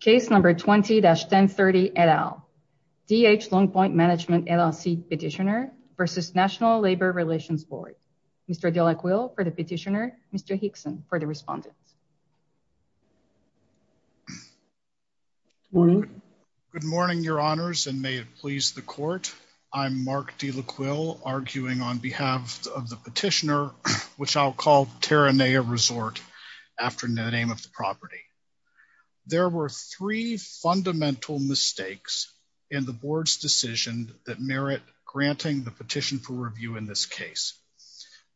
Case number 20-1030, et al. D.H. Long Point Management LLC petitioner versus National Labor Relations Board. Mr. De La Quil for the petitioner, Mr. Hickson for the respondent. Good morning, your honors, and may it please the court. I'm Mark De La Quil arguing on behalf of the petitioner, which I'll call Teranea Resort after the name of the property. There were three fundamental mistakes in the board's decision that merit granting the petition for review in this case.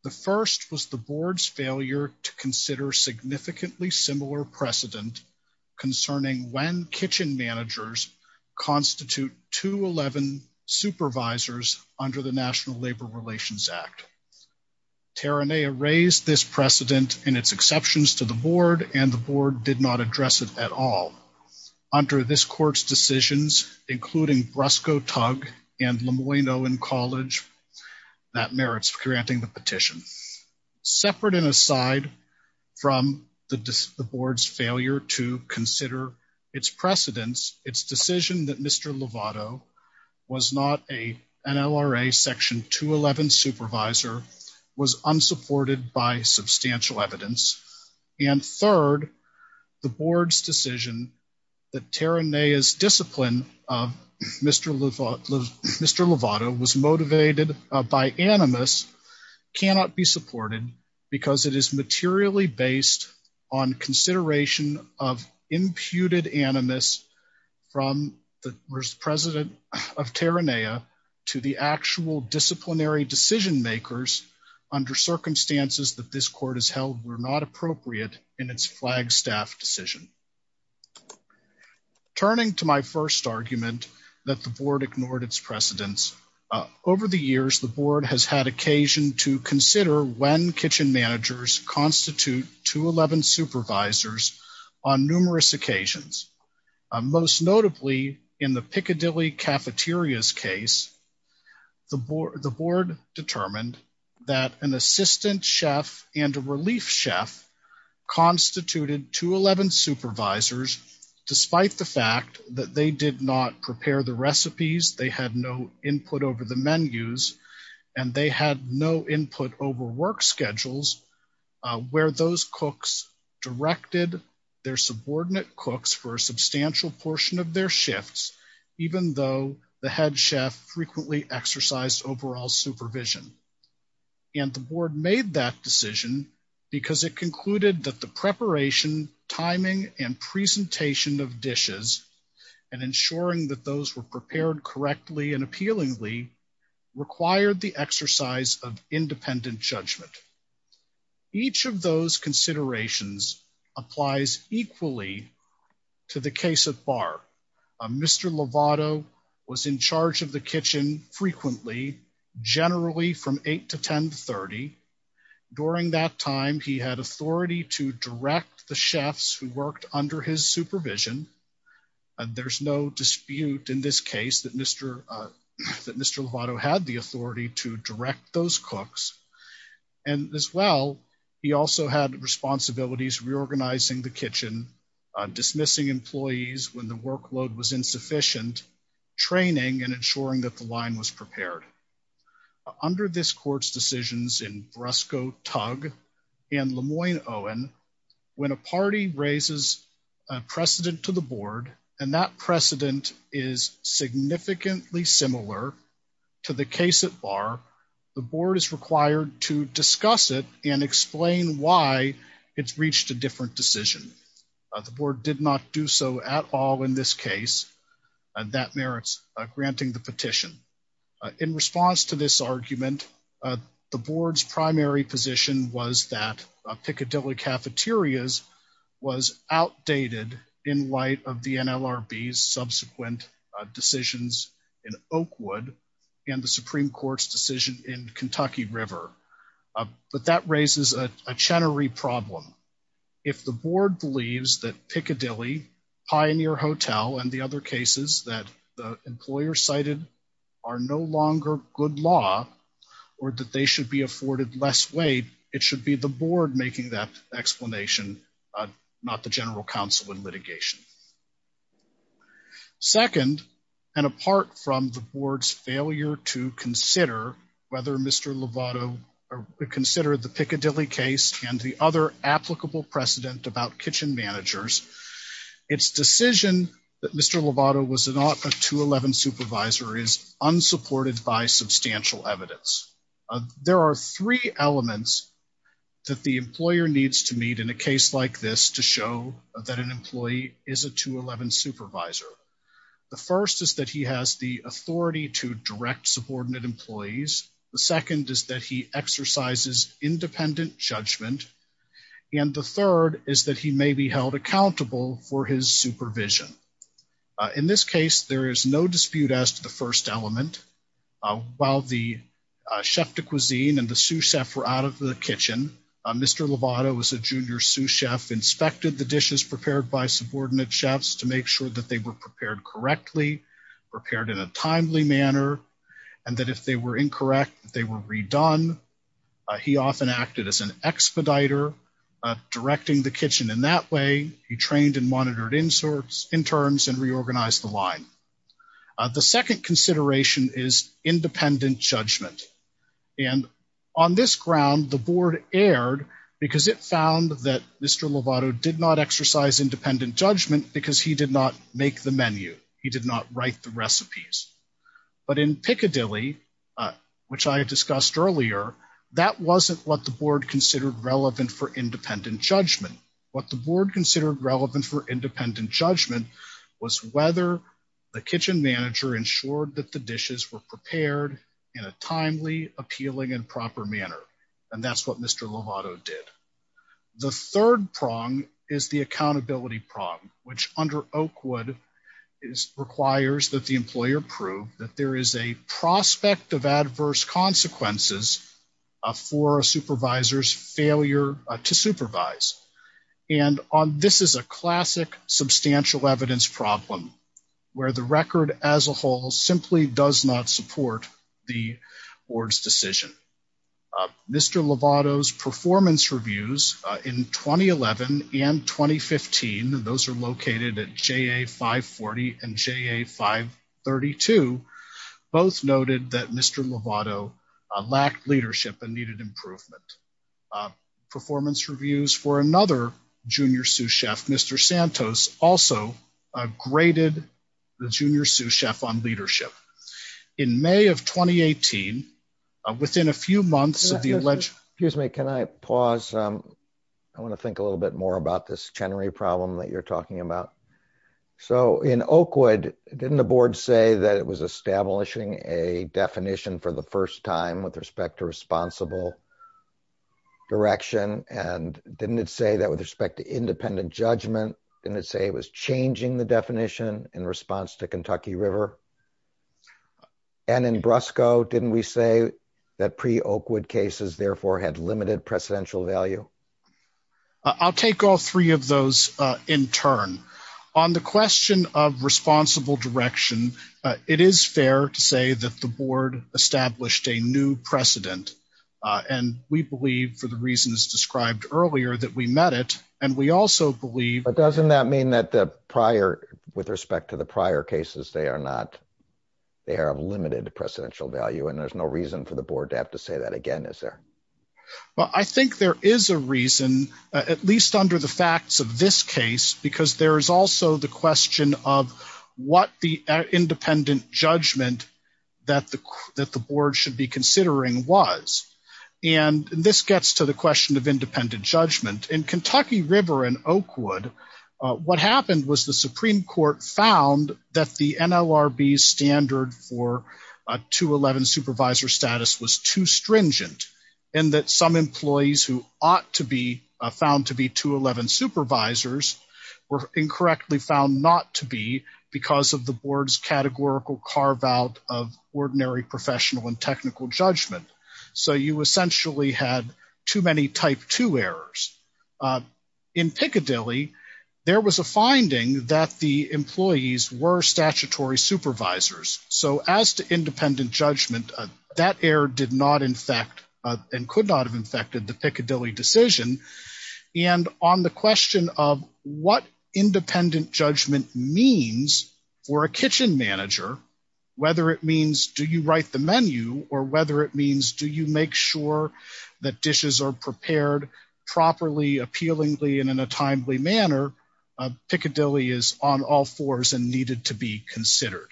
The first was the board's failure to consider significantly similar precedent concerning when kitchen managers constitute 211 supervisors under the National Labor Relations Act. Teranea raised this precedent and its exceptions to the board and the board did not address it at all. Under this court's decisions, including Brusco Tug and Lemoyne-Owen College, that merits granting the petition. Separate and aside from the board's failure to consider its precedents, its decision that Mr. Lovato was not an NLRA section 211 supervisor was unsupported by substantial evidence. And third, the board's decision that Teranea's discipline of Mr. Lovato was motivated by animus cannot be supported because it is materially based on consideration of imputed animus from the president of Teranea to the actual disciplinary decision makers under circumstances that this court has held were not appropriate in its flagstaff decision. Turning to my first argument that the board ignored its precedents, over the years, the board has had occasion to consider when kitchen managers constitute 211 supervisors on numerous occasions. Most notably, in the Piccadilly Cafeteria's case, the board determined that an assistant chef and a relief chef constituted 211 supervisors despite the fact that they did not prepare the recipes, they had no input over the menus, and they had no input over work schedules where those cooks directed their subordinate cooks for a substantial portion of their shifts, even though the head chef frequently exercised overall supervision. And the board made that decision because it concluded that the preparation, timing, and presentation of dishes and ensuring that those were prepared correctly and appealingly required the exercise of independent judgment. Each of those considerations applies equally to the case of Barr. Mr. Lovato was in charge of the kitchen frequently, generally from eight to 10 to 30. During that time, he had authority to direct the chefs who worked under his supervision. And there's no dispute in this case that Mr. Lovato had the authority to direct those cooks. And as well, he also had responsibilities reorganizing the kitchen, dismissing employees when the workload was insufficient, training and ensuring that the line was prepared. Under this court's decisions in Brusco, Tugg, and Lemoyne-Owen, when a party raises a precedent to the board and that precedent is significantly similar to the case at Barr, the board is required to discuss it and explain why it's reached a different decision. The board did not do so at all in this case, and that merits granting the petition. In response to this argument, the board's primary position was that Piccadilly cafeterias was outdated in light of the NLRB's subsequent decisions in Oakwood and the Supreme Court's decision in Kentucky River. But that raises a Chenery problem. If the board believes that Piccadilly, Pioneer Hotel, and the other cases that the employer cited are no longer good law, or that they should be afforded less weight, it should be the board making that explanation, not the general counsel in litigation. Second, and apart from the board's failure to consider whether Mr. Lovato considered the Piccadilly case and the other applicable precedent about kitchen managers, its decision that Mr. Lovato was not a 211 supervisor is unsupported by substantial evidence. There are three elements that the employer needs to meet in a case like this to show that an employee is a 211 supervisor. The first is that he has the authority to direct subordinate employees. The second is that he exercises independent judgment. And the third is that he may be held accountable for his supervision. In this case, there is no dispute as to the first element. While the chef de cuisine and the sous chef were out of the kitchen, Mr. Lovato was a junior sous chef, inspected the dishes prepared by subordinate chefs to make sure that they were prepared correctly, prepared in a timely manner, and that if they were incorrect, they were redone. He often acted as an expediter directing the kitchen in that way. He trained and monitored interns and reorganized the line. The second consideration is independent judgment. And on this ground, the board erred because it found that Mr. Lovato did not exercise independent judgment because he did not make the menu. He did not write the recipes. But in Piccadilly, which I discussed earlier, that wasn't what the board considered relevant for independent judgment. What the board considered relevant for independent judgment was whether the kitchen manager ensured that the dishes were prepared in a timely, appealing, and proper manner. And that's what Mr. Lovato did. The third prong is the accountability prong, which under Oakwood requires that the employer prove that there is a prospect of adverse consequences for a supervisor's failure to supervise. And this is a classic substantial evidence problem where the record as a whole simply does not support the board's decision. Mr. Lovato's performance reviews in 2011 and 2015, those are located at JA 540 and JA 532, both noted that Mr. Lovato lacked leadership and needed improvement. Performance reviews for another junior sous chef, Mr. Santos, also graded the junior sous chef on leadership. In May of 2018, within a few months of the alleged- Excuse me, can I pause? I wanna think a little bit more about this Chenery problem that you're talking about. So in Oakwood, didn't the board say that it was establishing a definition for the first time with respect to responsible direction? And didn't it say that with respect to independent judgment, didn't it say it was changing the definition in response to Kentucky River? And in Brusco, didn't we say that pre-Oakwood cases therefore had limited presidential value? I'll take all three of those in turn. On the question of responsible direction, it is fair to say that the board established a new precedent. And we believe for the reasons described earlier that we met it, and we also believe- Does that mean that with respect to the prior cases, they are of limited presidential value and there's no reason for the board to have to say that again, is there? Well, I think there is a reason, at least under the facts of this case, because there is also the question of what the independent judgment that the board should be considering was. And this gets to the question of independent judgment. In Kentucky River and Oakwood, what happened was the Supreme Court found that the NLRB standard for a 211 supervisor status was too stringent and that some employees who ought to be found to be 211 supervisors were incorrectly found not to be because of the board's categorical carve out of ordinary professional and technical judgment. So you essentially had too many type two errors. In Piccadilly, there was a finding that the employees were statutory supervisors. So as to independent judgment, that error did not infect and could not have infected the Piccadilly decision. And on the question of what independent judgment means for a kitchen manager, whether it means do you write the menu or whether it means do you make sure that dishes are prepared properly, appealingly and in a timely manner, Piccadilly is on all fours and needed to be considered.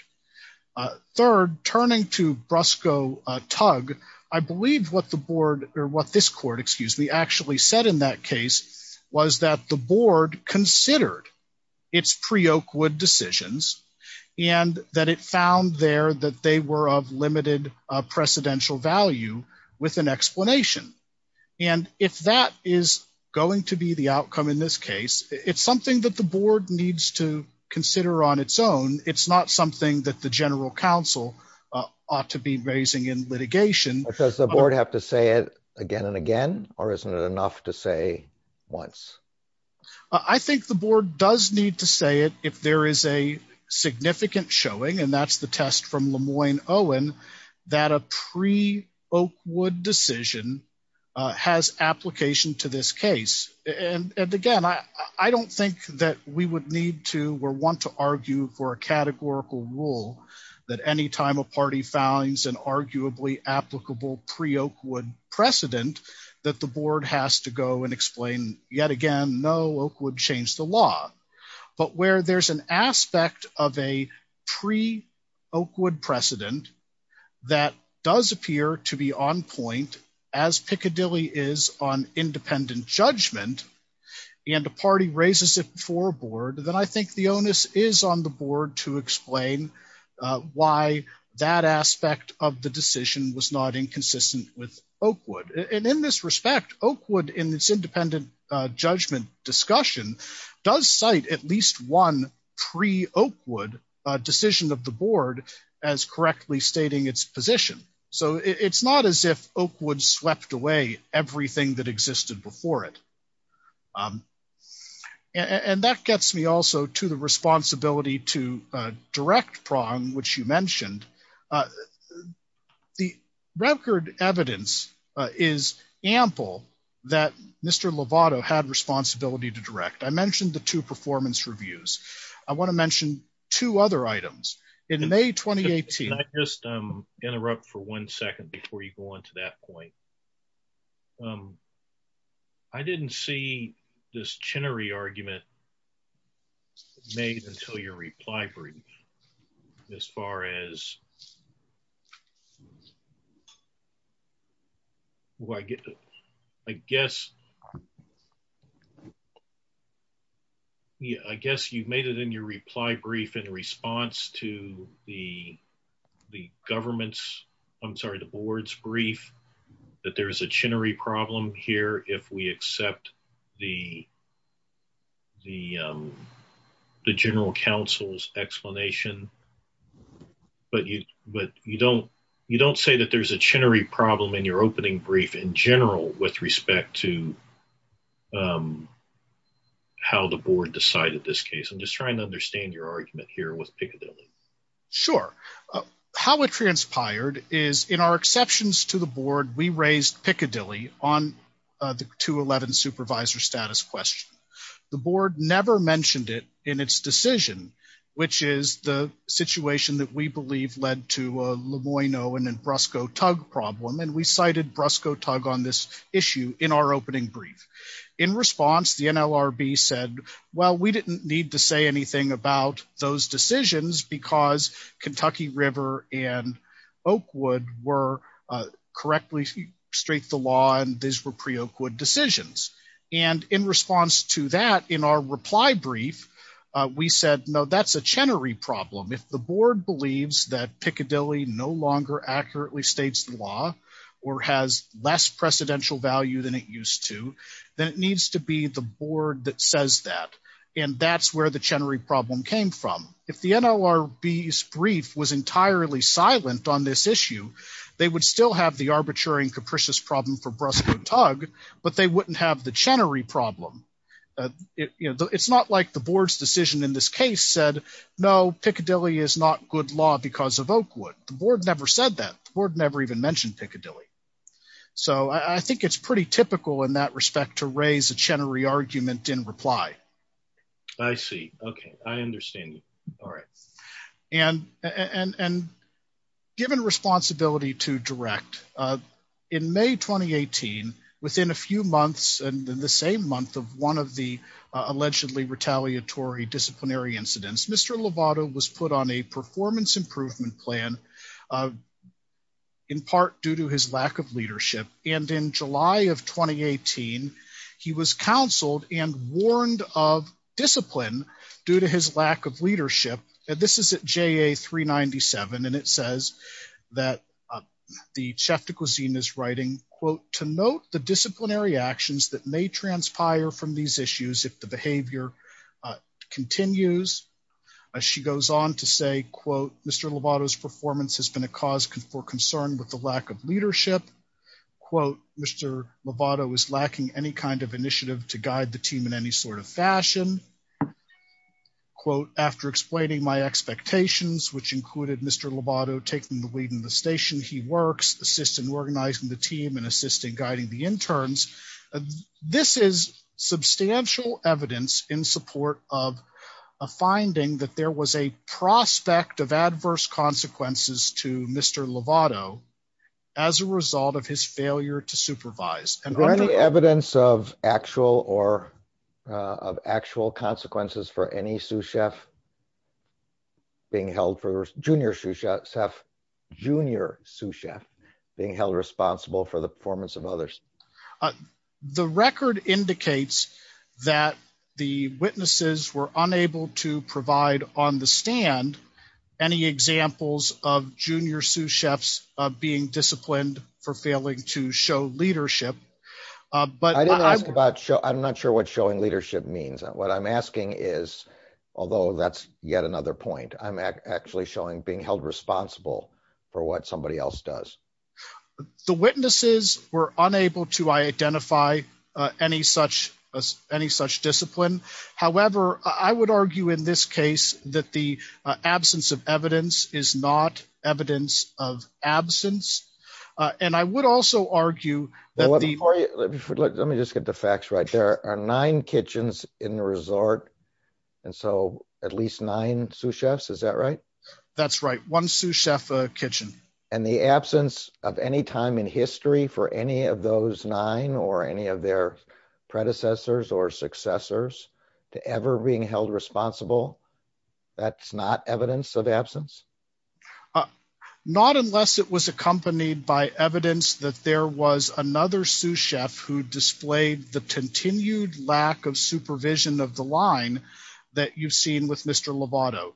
Third, turning to Brusco Tug, I believe what the board or what this court, excuse me, actually said in that case was that the board considered its pre-Oakwood decisions and that it found there that they were of limited precedential value with an explanation. And if that is going to be the outcome in this case, it's something that the board needs to consider on its own. It's not something that the general counsel ought to be raising in litigation. Does the board have to say it again and again or isn't it enough to say once? I think the board does need to say it if there is a significant showing and that's the test from Lemoyne-Owen that a pre-Oakwood decision has application to this case. And again, I don't think that we would need to or want to argue for a categorical rule that anytime a party finds an arguably applicable pre-Oakwood precedent that the board has to go and explain yet again, no, Oakwood changed the law. But where there's an aspect of a pre-Oakwood precedent that does appear to be on point as Piccadilly is on independent judgment and the party raises it for board, then I think the onus is on the board to explain why that aspect of the decision was not inconsistent with Oakwood. And in this respect, Oakwood in this independent judgment discussion does cite at least one pre-Oakwood decision of the board as correctly stating its position. So it's not as if Oakwood swept away everything that existed before it. And that gets me also to the responsibility to direct prong, which you mentioned. The record evidence is ample that Mr. Lovato had responsibility to direct. I mentioned the two performance reviews. I want to mention two other items. In May, 2018- Can I just interrupt for one second before you go on to that point? I didn't see this Chenery argument made until your reply brief as far as, I guess you've made it in your reply brief in response to the government's, I'm sorry, the board's brief that there is a Chenery problem here if we accept the general council's explanation, but you don't say that there's a Chenery problem in your opening brief in general with respect to how the board decided this case. I'm just trying to understand your argument here with Piccadilly. Sure. How it transpired is in our exceptions to the board, we raised Piccadilly on the 211 supervisor status question. The board never mentioned it in its decision, which is the situation that we believe led to a Lemoyne-Owen and Brusco-Tug problem. And we cited Brusco-Tug on this issue in our opening brief. In response, the NLRB said, well, we didn't need to say anything about those decisions because Kentucky River and Oakwood were correctly straight the law and these were pre-Oakwood decisions. And in response to that, in our reply brief, we said, no, that's a Chenery problem. If the board believes that Piccadilly no longer accurately states the law or has less precedential value than it used to, then it needs to be the board that says that. And that's where the Chenery problem came from. If the NLRB's brief was entirely silent on this issue, they would still have the arbitrary and capricious problem for Brusco-Tug, but they wouldn't have the Chenery problem. It's not like the board's decision in this case said, no, Piccadilly is not good law because of Oakwood. The board never said that. The board never even mentioned Piccadilly. So I think it's pretty typical in that respect to raise a Chenery argument in reply. I see, okay, I understand you, all right. And given responsibility to direct, in May, 2018, within a few months and in the same month of one of the allegedly retaliatory disciplinary incidents, Mr. Lovato was put on a performance improvement plan in part due to his lack of leadership. And in July of 2018, he was counseled and warned of discipline due to his lack of leadership. And this is at JA 397. And it says that the chef de cuisine is writing, quote, to note the disciplinary actions that may transpire from these issues if the behavior continues. As she goes on to say, quote, Mr. Lovato's performance has been a cause for concern with the lack of leadership. Quote, Mr. Lovato is lacking any kind of initiative to guide the team in any sort of fashion. Quote, after explaining my expectations, which included Mr. Lovato taking the lead in the station, he works, assists in organizing the team and assisting guiding the interns. This is substantial evidence in support of a finding that there was a prospect of adverse consequences to Mr. Lovato as a result of his failure to supervise. And- Are there any evidence of actual or of actual consequences for any sous chef being held for, junior sous chef being held responsible for the performance of others? The record indicates that the witnesses were unable to provide on the stand any examples of junior sous chefs being disciplined for failing to show leadership, but- I didn't ask about show, I'm not sure what showing leadership means. What I'm asking is, although that's yet another point, I'm actually showing being held responsible for what somebody else does. The witnesses were unable to identify any such discipline. However, I would argue in this case that the absence of evidence is not evidence of absence. And I would also argue that the- Before you, let me just get the facts right. There are nine kitchens in the resort. And so at least nine sous chefs, is that right? That's right. One sous chef, a kitchen. And the absence of any time in history for any of those nine or any of their predecessors or successors to ever being held responsible, that's not evidence of absence? Not unless it was accompanied by evidence that there was another sous chef who displayed the continued lack of supervision of the line that you've seen with Mr. Lovato.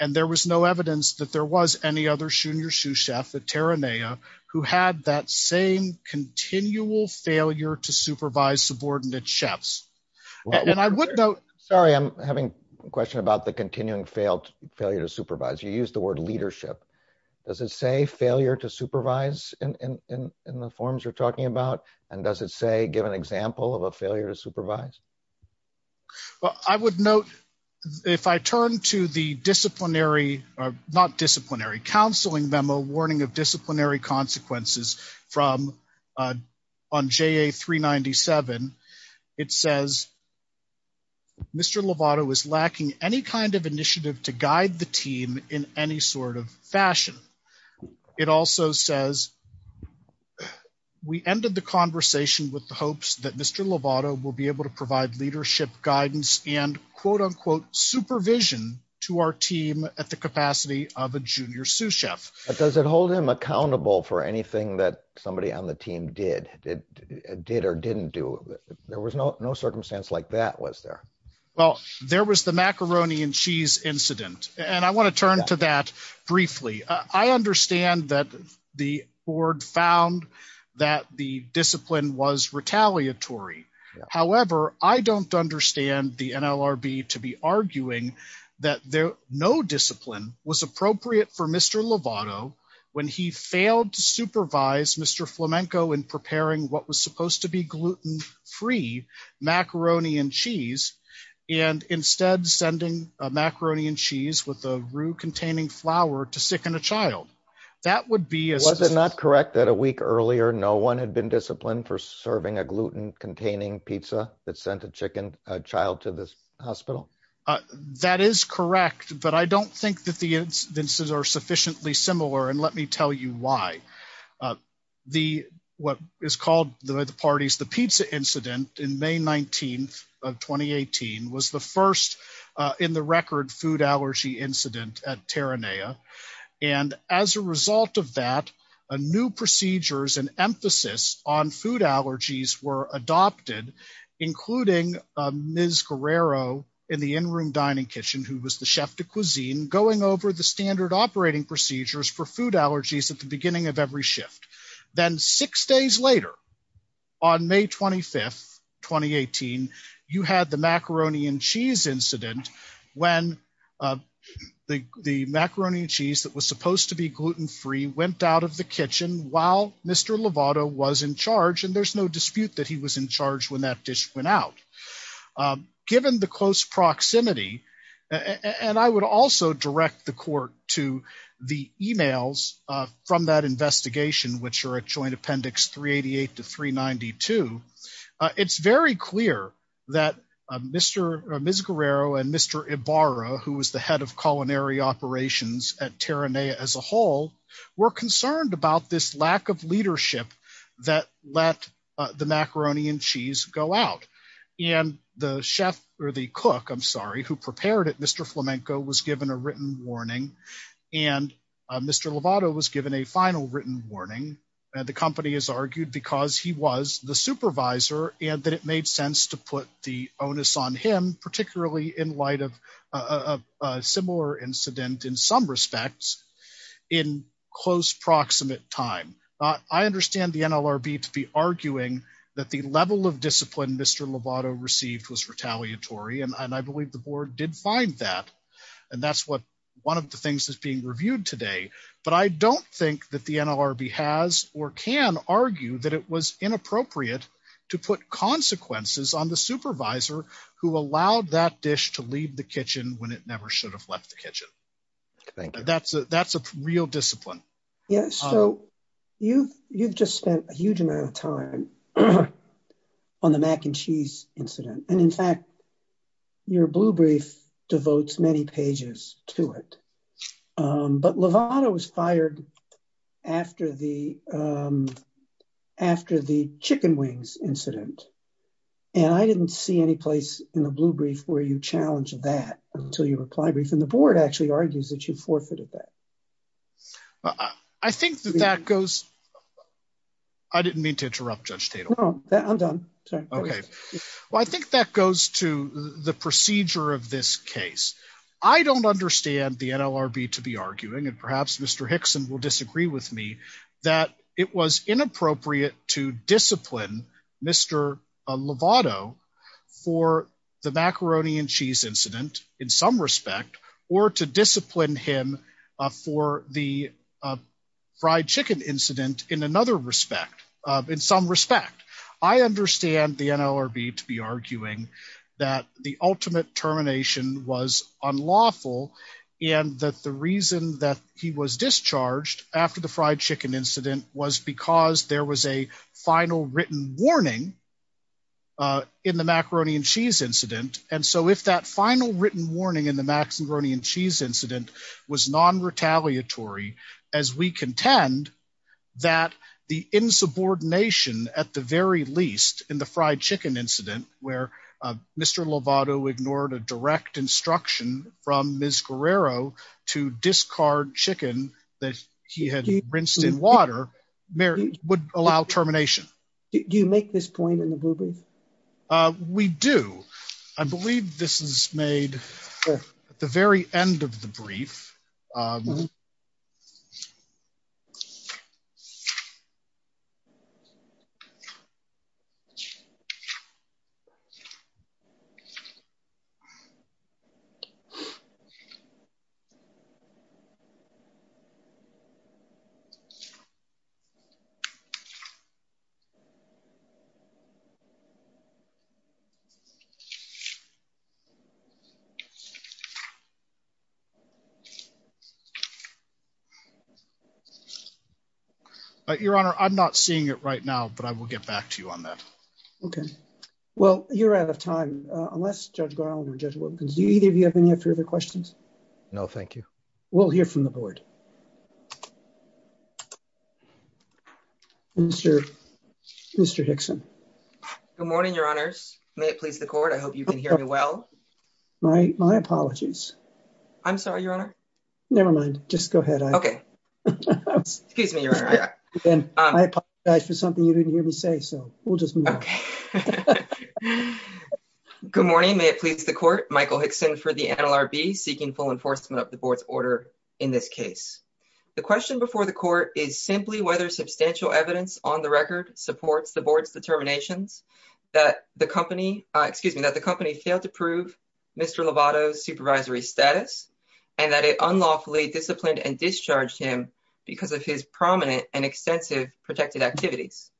And there was no evidence that there was any other junior sous chef, the Terranea, who had that same continual failure to supervise subordinate chefs. And I would note- Sorry, I'm having a question about the continuing failure to supervise. You used the word leadership. Does it say failure to supervise in the forms you're talking about? And does it say, give an example of a failure to supervise? Well, I would note, if I turn to the disciplinary, not disciplinary, counseling memo warning of disciplinary consequences on JA 397, it says, Mr. Lovato is lacking any kind of initiative to guide the team in any sort of fashion. It also says, we ended the conversation with the hopes that Mr. Lovato will be able to provide leadership guidance and quote unquote supervision to our team at the capacity of a junior sous chef. But does it hold him accountable for anything that somebody on the team did or didn't do? There was no circumstance like that, was there? Well, there was the macaroni and cheese incident. And I want to turn to that briefly. I understand that the board found that the discipline was retaliatory. However, I don't understand the NLRB to be arguing that no discipline was appropriate for Mr. Lovato when he failed to supervise Mr. Flamenco in preparing what was supposed to be gluten free and instead sending a macaroni and cheese with a roux containing flour to sicken a child. That would be- Was it not correct that a week earlier, no one had been disciplined for serving a gluten containing pizza that sent a child to this hospital? That is correct, but I don't think that the instances are sufficiently similar. And let me tell you why. What is called by the parties, the pizza incident in May 19th of 2018 was the first in the record food allergy incident at Terranea. And as a result of that, a new procedures and emphasis on food allergies were adopted, including Ms. Guerrero in the in-room dining kitchen who was the chef de cuisine, going over the standard operating procedures for food allergies at the beginning of every shift. Then six days later on May 25th, 2018, you had the macaroni and cheese incident when the macaroni and cheese that was supposed to be gluten free went out of the kitchen while Mr. Lovato was in charge. And there's no dispute that he was in charge when that dish went out. Given the close proximity, and I would also direct the court to the emails from that investigation, which are at joint appendix 388 to 392. It's very clear that Ms. Guerrero and Mr. Ibarra, who was the head of culinary operations at Terranea as a whole, were concerned about this lack of leadership that let the macaroni and cheese go out. And the chef or the cook, I'm sorry, who prepared it, Mr. Flamenco was given a written warning and Mr. Lovato was given a final written warning. And the company has argued because he was the supervisor and that it made sense to put the onus on him, particularly in light of a similar incident in some respects in close proximate time. I understand the NLRB to be arguing that the level of discipline Mr. Lovato received was retaliatory. And I believe the board did find that. And that's what one of the things that's being reviewed today. But I don't think that the NLRB has or can argue that it was inappropriate to put consequences on the supervisor who allowed that dish to leave the kitchen when it never should have left the kitchen. Thank you. That's a real discipline. Yeah, so you've just spent a huge amount of time on the mac and cheese incident. And in fact, your blue brief devotes many pages to it. But Lovato was fired after the chicken wings incident. And I didn't see any place in the blue brief where you challenged that until your reply brief. And the board actually argues that you forfeited that. I think that that goes, I didn't mean to interrupt Judge Tatum. No, I'm done, sorry. Okay. Well, I think that goes to the procedure of this case. I don't understand the NLRB to be arguing, and perhaps Mr. Hickson will disagree with me, that it was inappropriate to discipline Mr. Lovato for the macaroni and cheese incident in some respect, or to discipline him for the fried chicken incident in another respect, in some respect. I understand the NLRB to be arguing that the ultimate termination was unlawful, and that the reason that he was discharged after the fried chicken incident was because there was a final written warning in the macaroni and cheese incident. And so if that final written warning in the macaroni and cheese incident was non-retaliatory, as we contend that the insubordination at the very least in the fried chicken incident, where Mr. Lovato ignored a direct instruction from Ms. Guerrero to discard chicken that he had rinsed in water, would allow termination. Do you make this point in the brief? We do. I believe this is made at the very end of the brief. Thank you. Your Honor, I'm not seeing it right now, but I will get back to you on that. Okay. Well, you're out of time, unless Judge Garland or Judge Wilkins, do either of you have any further questions? No, thank you. We'll hear from the board. Mr. Hickson. Good morning, Your Honors. May it please the court. I hope you can hear me well. My apologies. I'm sorry, Your Honor. Nevermind, just go ahead. Okay. Excuse me, Your Honor. And I apologize for something you didn't hear me say, so we'll just move on. Okay. Good morning. May it please the court. Michael Hickson for the NLRB, seeking full enforcement of the board's order in this case. The question before the court is simply whether substantial evidence on the record supports the board's determinations that the company, excuse me, that the company failed to prove Mr. Lovato's supervisory status and that it unlawfully disciplined and discharged him because of his prominent and extensive protected activities.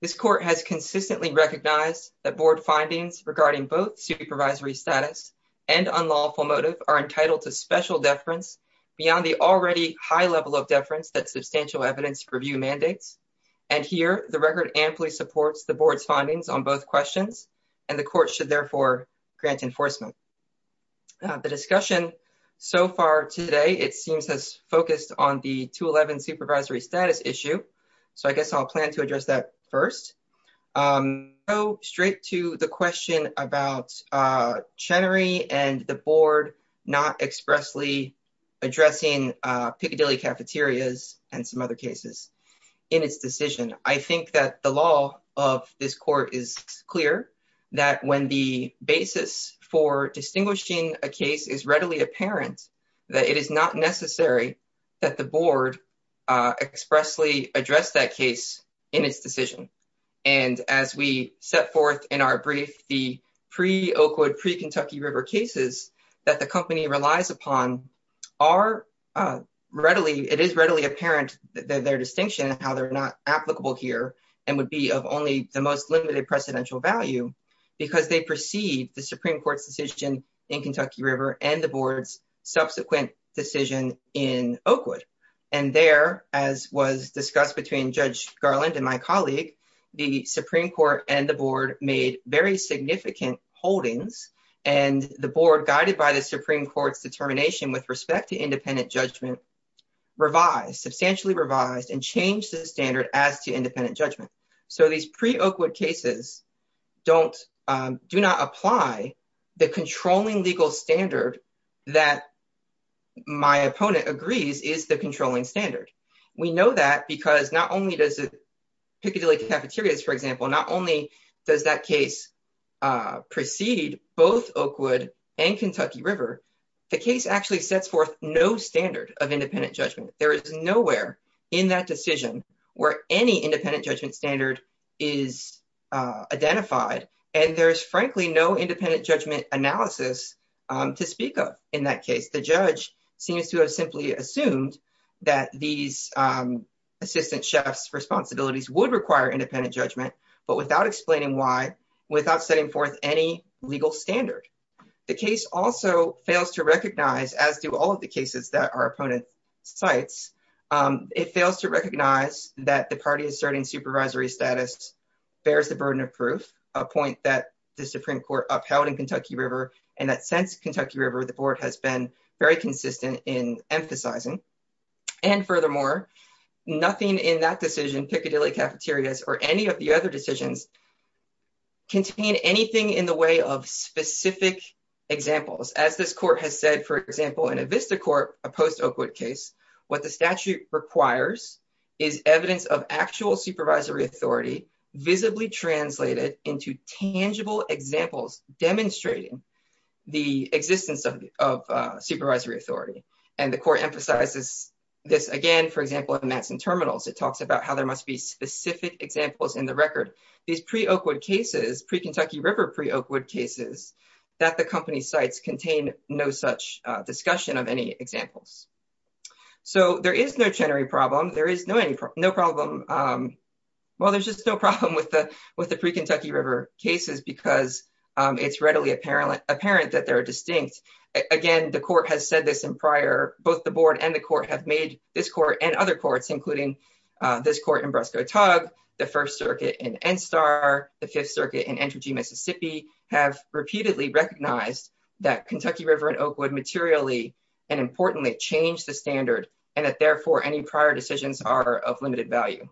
This court has consistently recognized that board findings regarding both supervisory status and unlawful motive are entitled to special deference beyond the already high level of deference that substantial evidence review mandates. And here, the record amply supports the board's findings on both questions and the court should therefore grant enforcement. The discussion so far today, it seems has focused on the 211 supervisory status issue. So I guess I'll plan to address that first. Go straight to the question about Chenery and the board not expressly addressing Piccadilly cafeterias and some other cases in its decision. I think that the law of this court is clear that when the basis for distinguishing a case is readily apparent, that it is not necessary that the board expressly address that case in its decision. And as we set forth in our brief, the pre-Oakwood, pre-Kentucky River cases that the company relies upon are readily, it is readily apparent that their distinction and how they're not applicable here and would be of only the most limited precedential value because they perceive the Supreme Court's decision in Kentucky River and the board's subsequent decision in Oakwood. And there, as was discussed between Judge Garland and my colleague, the Supreme Court and the board made very significant holdings and the board guided by the Supreme Court's determination with respect to independent judgment revised, substantially revised and changed the standard as to independent judgment. So these pre-Oakwood cases do not apply the controlling legal standard that my opponent agrees is the controlling standard. We know that because not only does Piccadilly cafeterias, for example, not only does that case proceed both Oakwood and Kentucky River, the case actually sets forth no standard of independent judgment. There is nowhere in that decision where any independent judgment standard is identified. And there's frankly no independent judgment analysis to speak of in that case. The judge seems to have simply assumed that these assistant chefs responsibilities would require independent judgment, but without explaining why, without setting forth any legal standard. The case also fails to recognize as do all of the cases that our opponent cites. It fails to recognize that the party is starting supervisory status, bears the burden of proof, a point that the Supreme Court upheld in Kentucky River. And that since Kentucky River, the board has been very consistent in emphasizing. And furthermore, nothing in that decision, Piccadilly cafeterias or any of the other decisions contain anything in the way of specific examples. As this court has said, for example, in a Vista court, a post Oakwood case, what the statute requires is evidence of actual supervisory authority visibly translated into tangible examples demonstrating the existence of supervisory authority. And the court emphasizes this again, for example, in Manson terminals, it talks about how there must be specific examples in the record. These pre Oakwood cases, pre Kentucky River, pre Oakwood cases that the company cites contain no such discussion of any examples. So there is no Chenery problem. No problem. Well, there's just no problem with the pre Kentucky River cases because it's readily apparent that they're distinct. Again, the court has said this in prior, both the board and the court have made this court and other courts, including this court in Brusco Tug, the first circuit in NSTAR, the fifth circuit in Entergy Mississippi have repeatedly recognized that Kentucky River and Oakwood materially and importantly changed the standard. And that therefore any prior decisions are of limited value.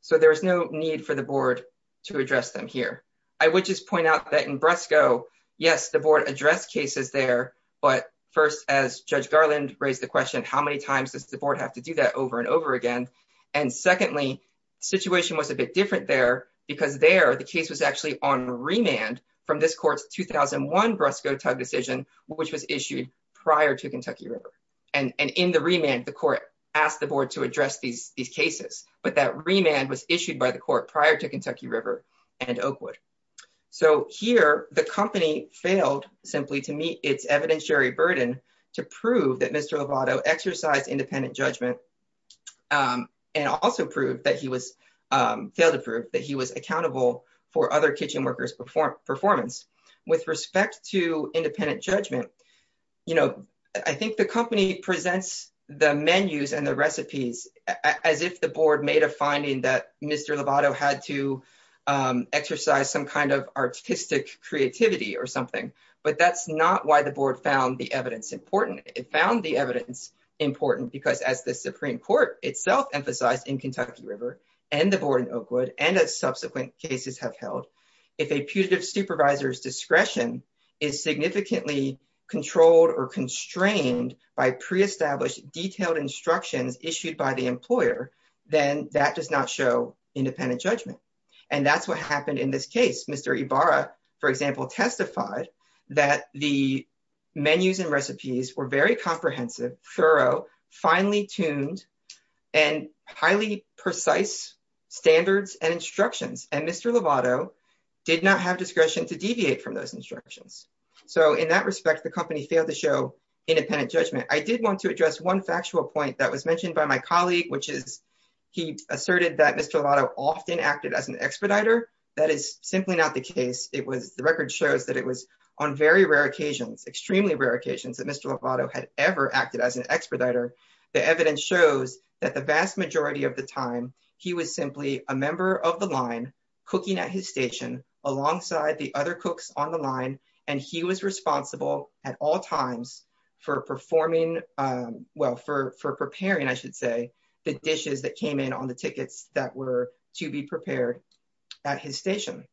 So there is no need for the board to address them here. I would just point out that in Brusco, yes, the board addressed cases there, but first as Judge Garland raised the question, how many times does the board have to do that over and over again? And secondly, situation was a bit different there because there the case was actually on remand from this court's 2001 Brusco Tug decision, which was issued prior to Kentucky River. And in the remand, the court asked the board to address these cases, but that remand was issued by the court prior to Kentucky River and Oakwood. So here the company failed simply to meet its evidentiary burden to prove that Mr. Lovato exercised independent judgment and also proved that he was, failed to prove that he was accountable for other kitchen workers' performance. With respect to independent judgment, you know, I think the company presents the menus and the recipes as if the board made a finding that Mr. Lovato had to exercise some kind of artistic creativity or something, but that's not why the board found the evidence important. It found the evidence important because as the Supreme Court itself emphasized in Kentucky River and the board in Oakwood and as subsequent cases have held, if a putative supervisor's discretion is significantly controlled or constrained by pre-established detailed instructions issued by the employer, then that does not show independent judgment. And that's what happened in this case. Mr. Ibarra, for example, testified that the menus and recipes were very comprehensive, thorough, finely tuned, and highly precise standards and instructions. And Mr. Lovato did not have discretion to deviate from those instructions. So in that respect, the company failed to show independent judgment. I did want to address one factual point that was mentioned by my colleague, which is he asserted that Mr. Lovato often acted as an expediter. That is simply not the case. The record shows that it was on very rare occasions, extremely rare occasions, that Mr. Lovato had ever acted as an expediter. The evidence shows that the vast majority of the time he was simply a member of the line cooking at his station alongside the other cooks on the line. And he was responsible at all times for performing, well, for preparing, I should say, the dishes that came in on the tickets that were to be prepared at his station.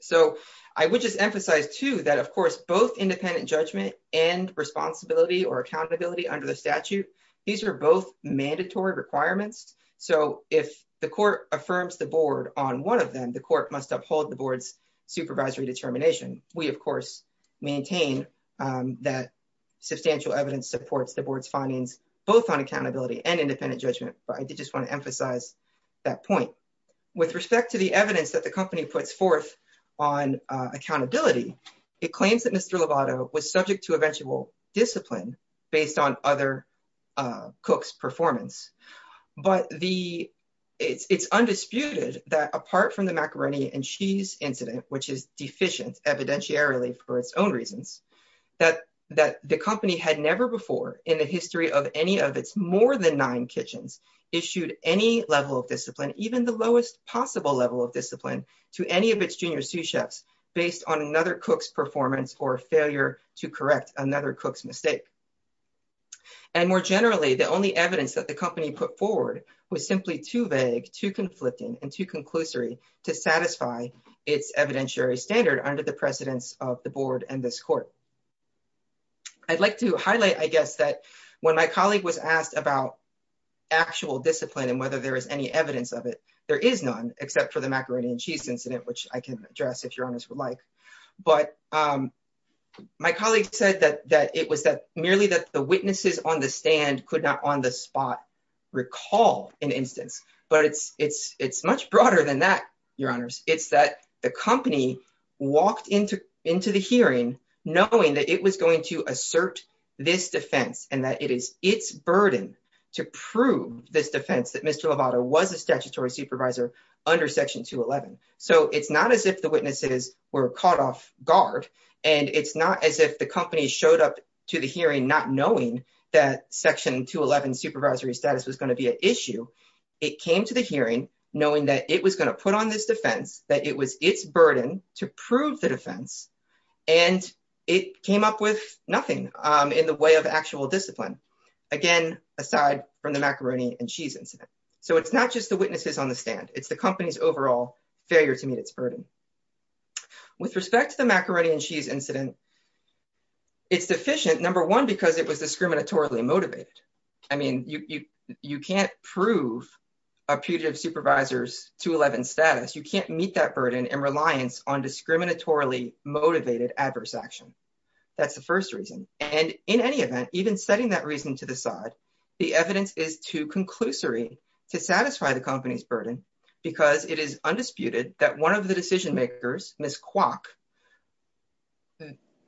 So I would just emphasize too, that of course, both independent judgment and responsibility or accountability under the statute, these are both mandatory requirements. So if the court affirms the board on one of them, the court must uphold the board's supervisory determination. We, of course, maintain that substantial evidence supports the board's findings, both on accountability and independent judgment. But I did just want to emphasize that point. With respect to the evidence that the company puts forth on accountability, it claims that Mr. Lovato was subject to eventual discipline based on other cooks' performance. But it's undisputed that apart from the macaroni and cheese incident, which is deficient evidentiarily for its own reasons, that the company had never before in the history of any of its more than nine kitchens issued any level of discipline, even the lowest possible level of discipline to any of its junior sous chefs based on another cook's performance or failure to correct another cook's mistake. And more generally, the only evidence that the company put forward was simply too vague, too conflicting, and too conclusory to satisfy its evidentiary standard under the precedence of the board and this court. I'd like to highlight, I guess, that when my colleague was asked about actual discipline and whether there was any evidence of it, there is none except for the macaroni and cheese incident, which I can address if your honors would like. But my colleague said that it was that merely that the witnesses on the stand could not on the spot recall an instance. But it's much broader than that, your honors. It's that the company walked into the hearing knowing that it was going to assert this defense and that it is its burden to prove this defense that Mr. Lovato was a statutory supervisor under section 211. So it's not as if the witnesses were caught off guard, and it's not as if the company showed up to the hearing not knowing that section 211 supervisory status was going to be an issue. It came to the hearing knowing that it was going to put on this defense, that it was its burden to prove the defense, and it came up with nothing in the way of actual discipline, again, aside from the macaroni and cheese incident. So it's not just the witnesses on the stand. It's the company's overall failure to meet its burden. With respect to the macaroni and cheese incident, it's deficient, number one, because it was discriminatorily motivated. I mean, you can't prove a putative supervisor's 211 status. You can't meet that burden in reliance on discriminatorily motivated adverse action. That's the first reason. And in any event, even setting that reason to the side, the evidence is too conclusory to satisfy the company's burden because it is undisputed that one of the decision makers, Ms. Kwok,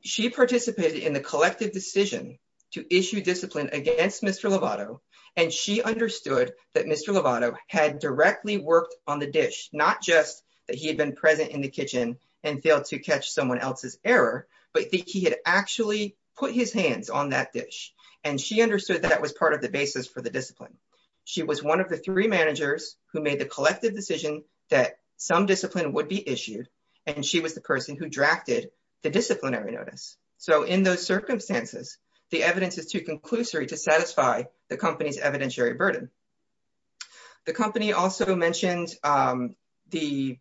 she participated in the collective decision to issue discipline against Mr. Lovato, and she understood that Mr. Lovato had directly worked on the dish, not just that he had been present in the kitchen and failed to catch someone else's error, but that he had actually put his hands on that dish. And she understood that was part of the basis for the discipline. She was one of the three managers who made the collective decision that some discipline would be issued, and she was the person who drafted the disciplinary notice. So in those circumstances, the evidence is too conclusory to satisfy the company's evidentiary burden. The company also mentioned the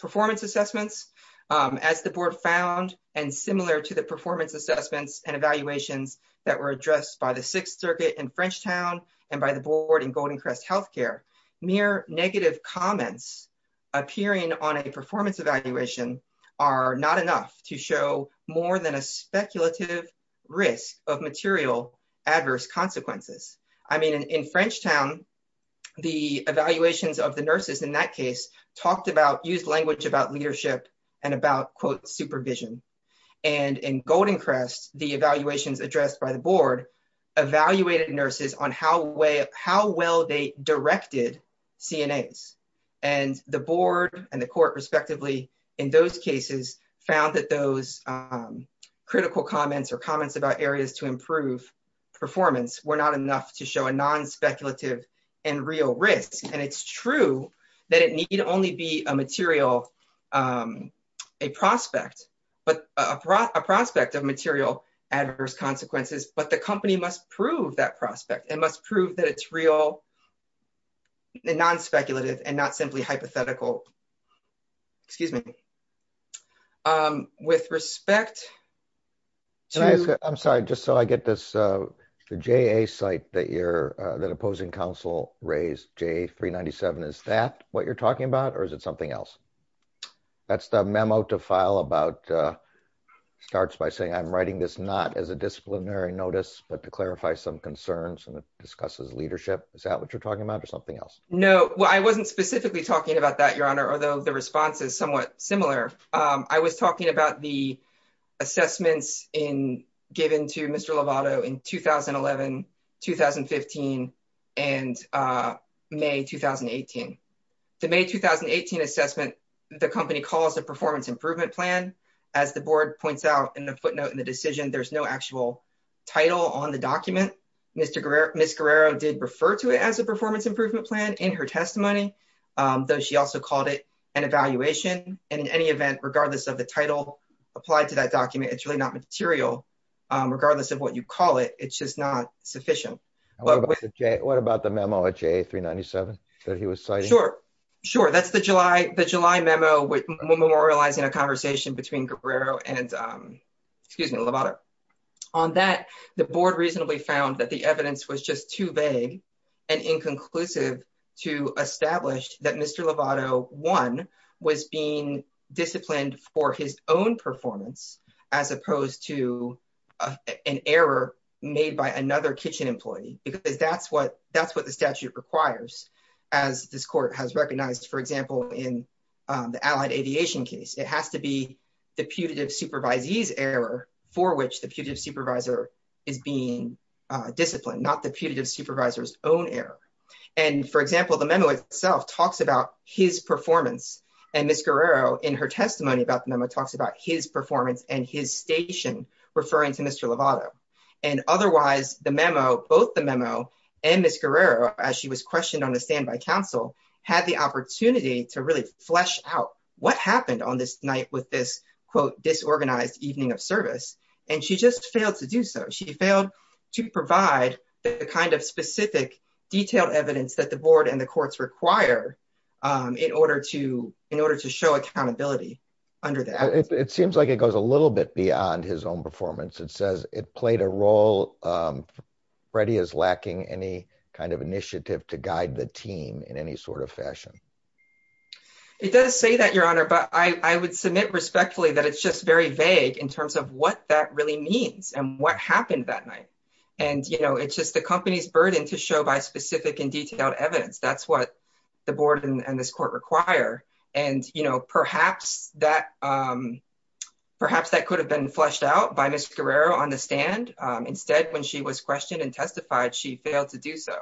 performance assessments as the board found, and similar to the performance assessments and evaluations that were addressed by the Sixth Circuit in Frenchtown and by the board in Golden Crest Healthcare, mere negative comments appearing on a performance evaluation are not enough to show more than a speculative risk of material adverse consequences. I mean, in Frenchtown, the evaluations of the nurses in that case talked about, used language about leadership and about, quote, supervision. And in Golden Crest, the evaluations addressed by the board evaluated nurses on how well they directed CNAs. And the board and the court respectively, in those cases, found that those critical comments or comments about areas to improve performance were not enough to show a non-speculative and real risk. And it's true that it need only be a material, a prospect, but a prospect of material adverse consequences, but the company must prove that prospect and must prove that it's real and non-speculative and not simply hypothetical. Excuse me. With respect to- I'm sorry, just so I get this, the JA site that opposing counsel raised, JA 397, is that what you're talking about or is it something else? That's the memo to file about, starts by saying I'm writing this not as a disciplinary notice, but to clarify some concerns and discuss as leadership. Is that what you're talking about or something else? No, well, I wasn't specifically talking about that, Your Honor, although the response is somewhat similar. I was talking about the assessments given to Mr. Lovato in 2011, 2015, and May, 2018. The May, 2018 assessment, the company calls a performance improvement plan. As the board points out in the footnote in the decision, there's no actual title on the document. Ms. Guerrero did refer to it as a performance improvement plan in her testimony, though she also called it an evaluation. And in any event, regardless of the title applied to that document, it's really not material, regardless of what you call it. It's just not sufficient. What about the memo at JA 397 that he was citing? Sure, sure. That's the July memo memorializing a conversation between Guerrero and, excuse me, Lovato. On that, the board reasonably found that the evidence was just too vague and inconclusive to establish that Mr. Lovato, one, was being disciplined for his own performance, as opposed to an error made by another kitchen employee, because that's what the statute requires, as this court has recognized. For example, in the Allied Aviation case, it has to be the putative supervisee's error for which the putative supervisor is being disciplined, not the putative supervisor's own error. And for example, the memo itself talks about his performance, and Ms. Guerrero, in her testimony about the memo, talks about his performance and his station, referring to Mr. Lovato. And otherwise, the memo, both the memo and Ms. Guerrero, as she was questioned on the standby counsel, had the opportunity to really flesh out what happened on this night with this, quote, disorganized evening of service. And she just failed to do so. She failed to provide the kind of specific detailed evidence that the board and the courts require in order to show accountability under that. It seems like it goes a little bit beyond his own performance. It says it played a role. Freddie is lacking any kind of initiative to guide the team in any sort of fashion. It does say that, Your Honor, but I would submit respectfully that it's just very vague in terms of what that really means and what happened that night. And it's just the company's burden to show by specific and detailed evidence. That's what the board and this court require. And perhaps that could have been fleshed out by Ms. Guerrero on the stand. Instead, when she was questioned and testified, she failed to do so.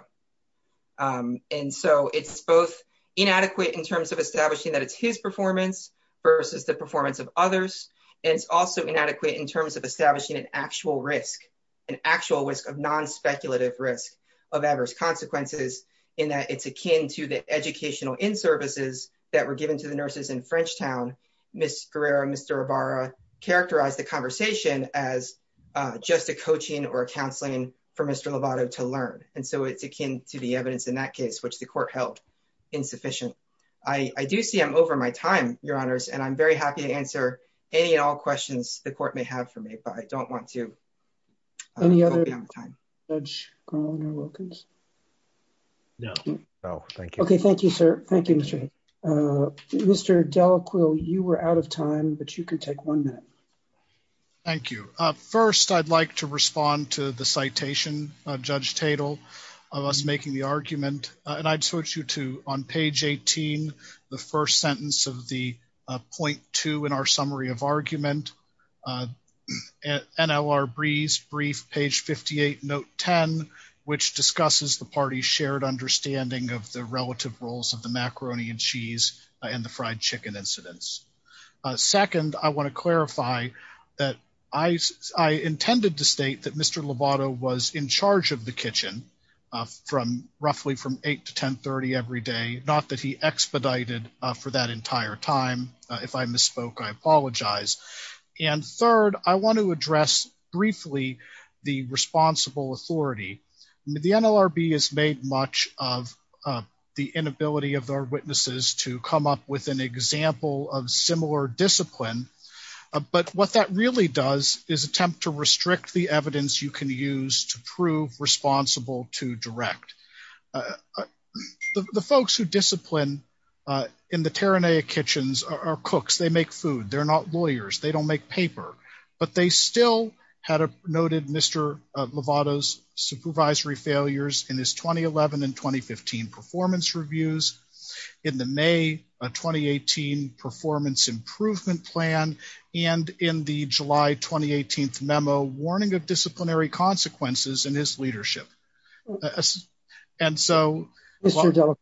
And so it's both inadequate in terms of establishing that it's his performance versus the performance of others. And it's also inadequate in terms of establishing an actual risk, an actual risk of non-speculative risk of adverse consequences in that it's akin to the educational inservices that were given to the nurses in Frenchtown. Ms. Guerrero and Mr. Rivara characterized the conversation as just a coaching or a counseling for Mr. Lovato to learn. And so it's akin to the evidence in that case, which the court held insufficient. I do see I'm over my time, Your Honors, and I'm very happy to answer any and all questions the court may have for me, but I don't want to be out of time. Any other Judge Carlin or Wilkins? No, no, thank you. Okay, thank you, sir. Thank you, Mr. Delacroix. Mr. Delacroix, you were out of time, but you can take one minute. Thank you. First, I'd like to respond to the citation, Judge Tatel, of us making the argument. And I'd switch you to, on page 18, the first sentence of the point two in our summary of argument, NLRB's brief, page 58, note 10, which discusses the party's shared understanding of the relative roles of the macaroni and cheese and the fried chicken incidents. Second, I want to clarify that I intended to state that Mr. Lovato was in charge of the kitchen from roughly from 8 to 10.30 every day, not that he expedited for that entire time. If I misspoke, I apologize. And third, I want to address briefly the responsible authority. The NLRB has made much of the inability of our witnesses to come up with an example of similar discipline. But what that really does is attempt to restrict the evidence you can use to prove responsible to direct. The folks who discipline in the Terranea kitchens are cooks. They make food. They're not lawyers. They don't make paper, but they still had noted Mr. Lovato's supervisory failures in his 2011 and 2015 performance reviews. In the May 2018 performance improvement plan and in the July 2018th memo, warning of disciplinary consequences in his leadership. And so- Mr. Delacroix,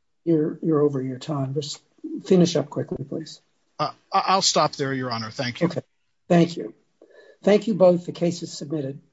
you're over your time. Just finish up quickly, please. I'll stop there, Your Honor. Thank you. Thank you. Thank you both. The case is submitted.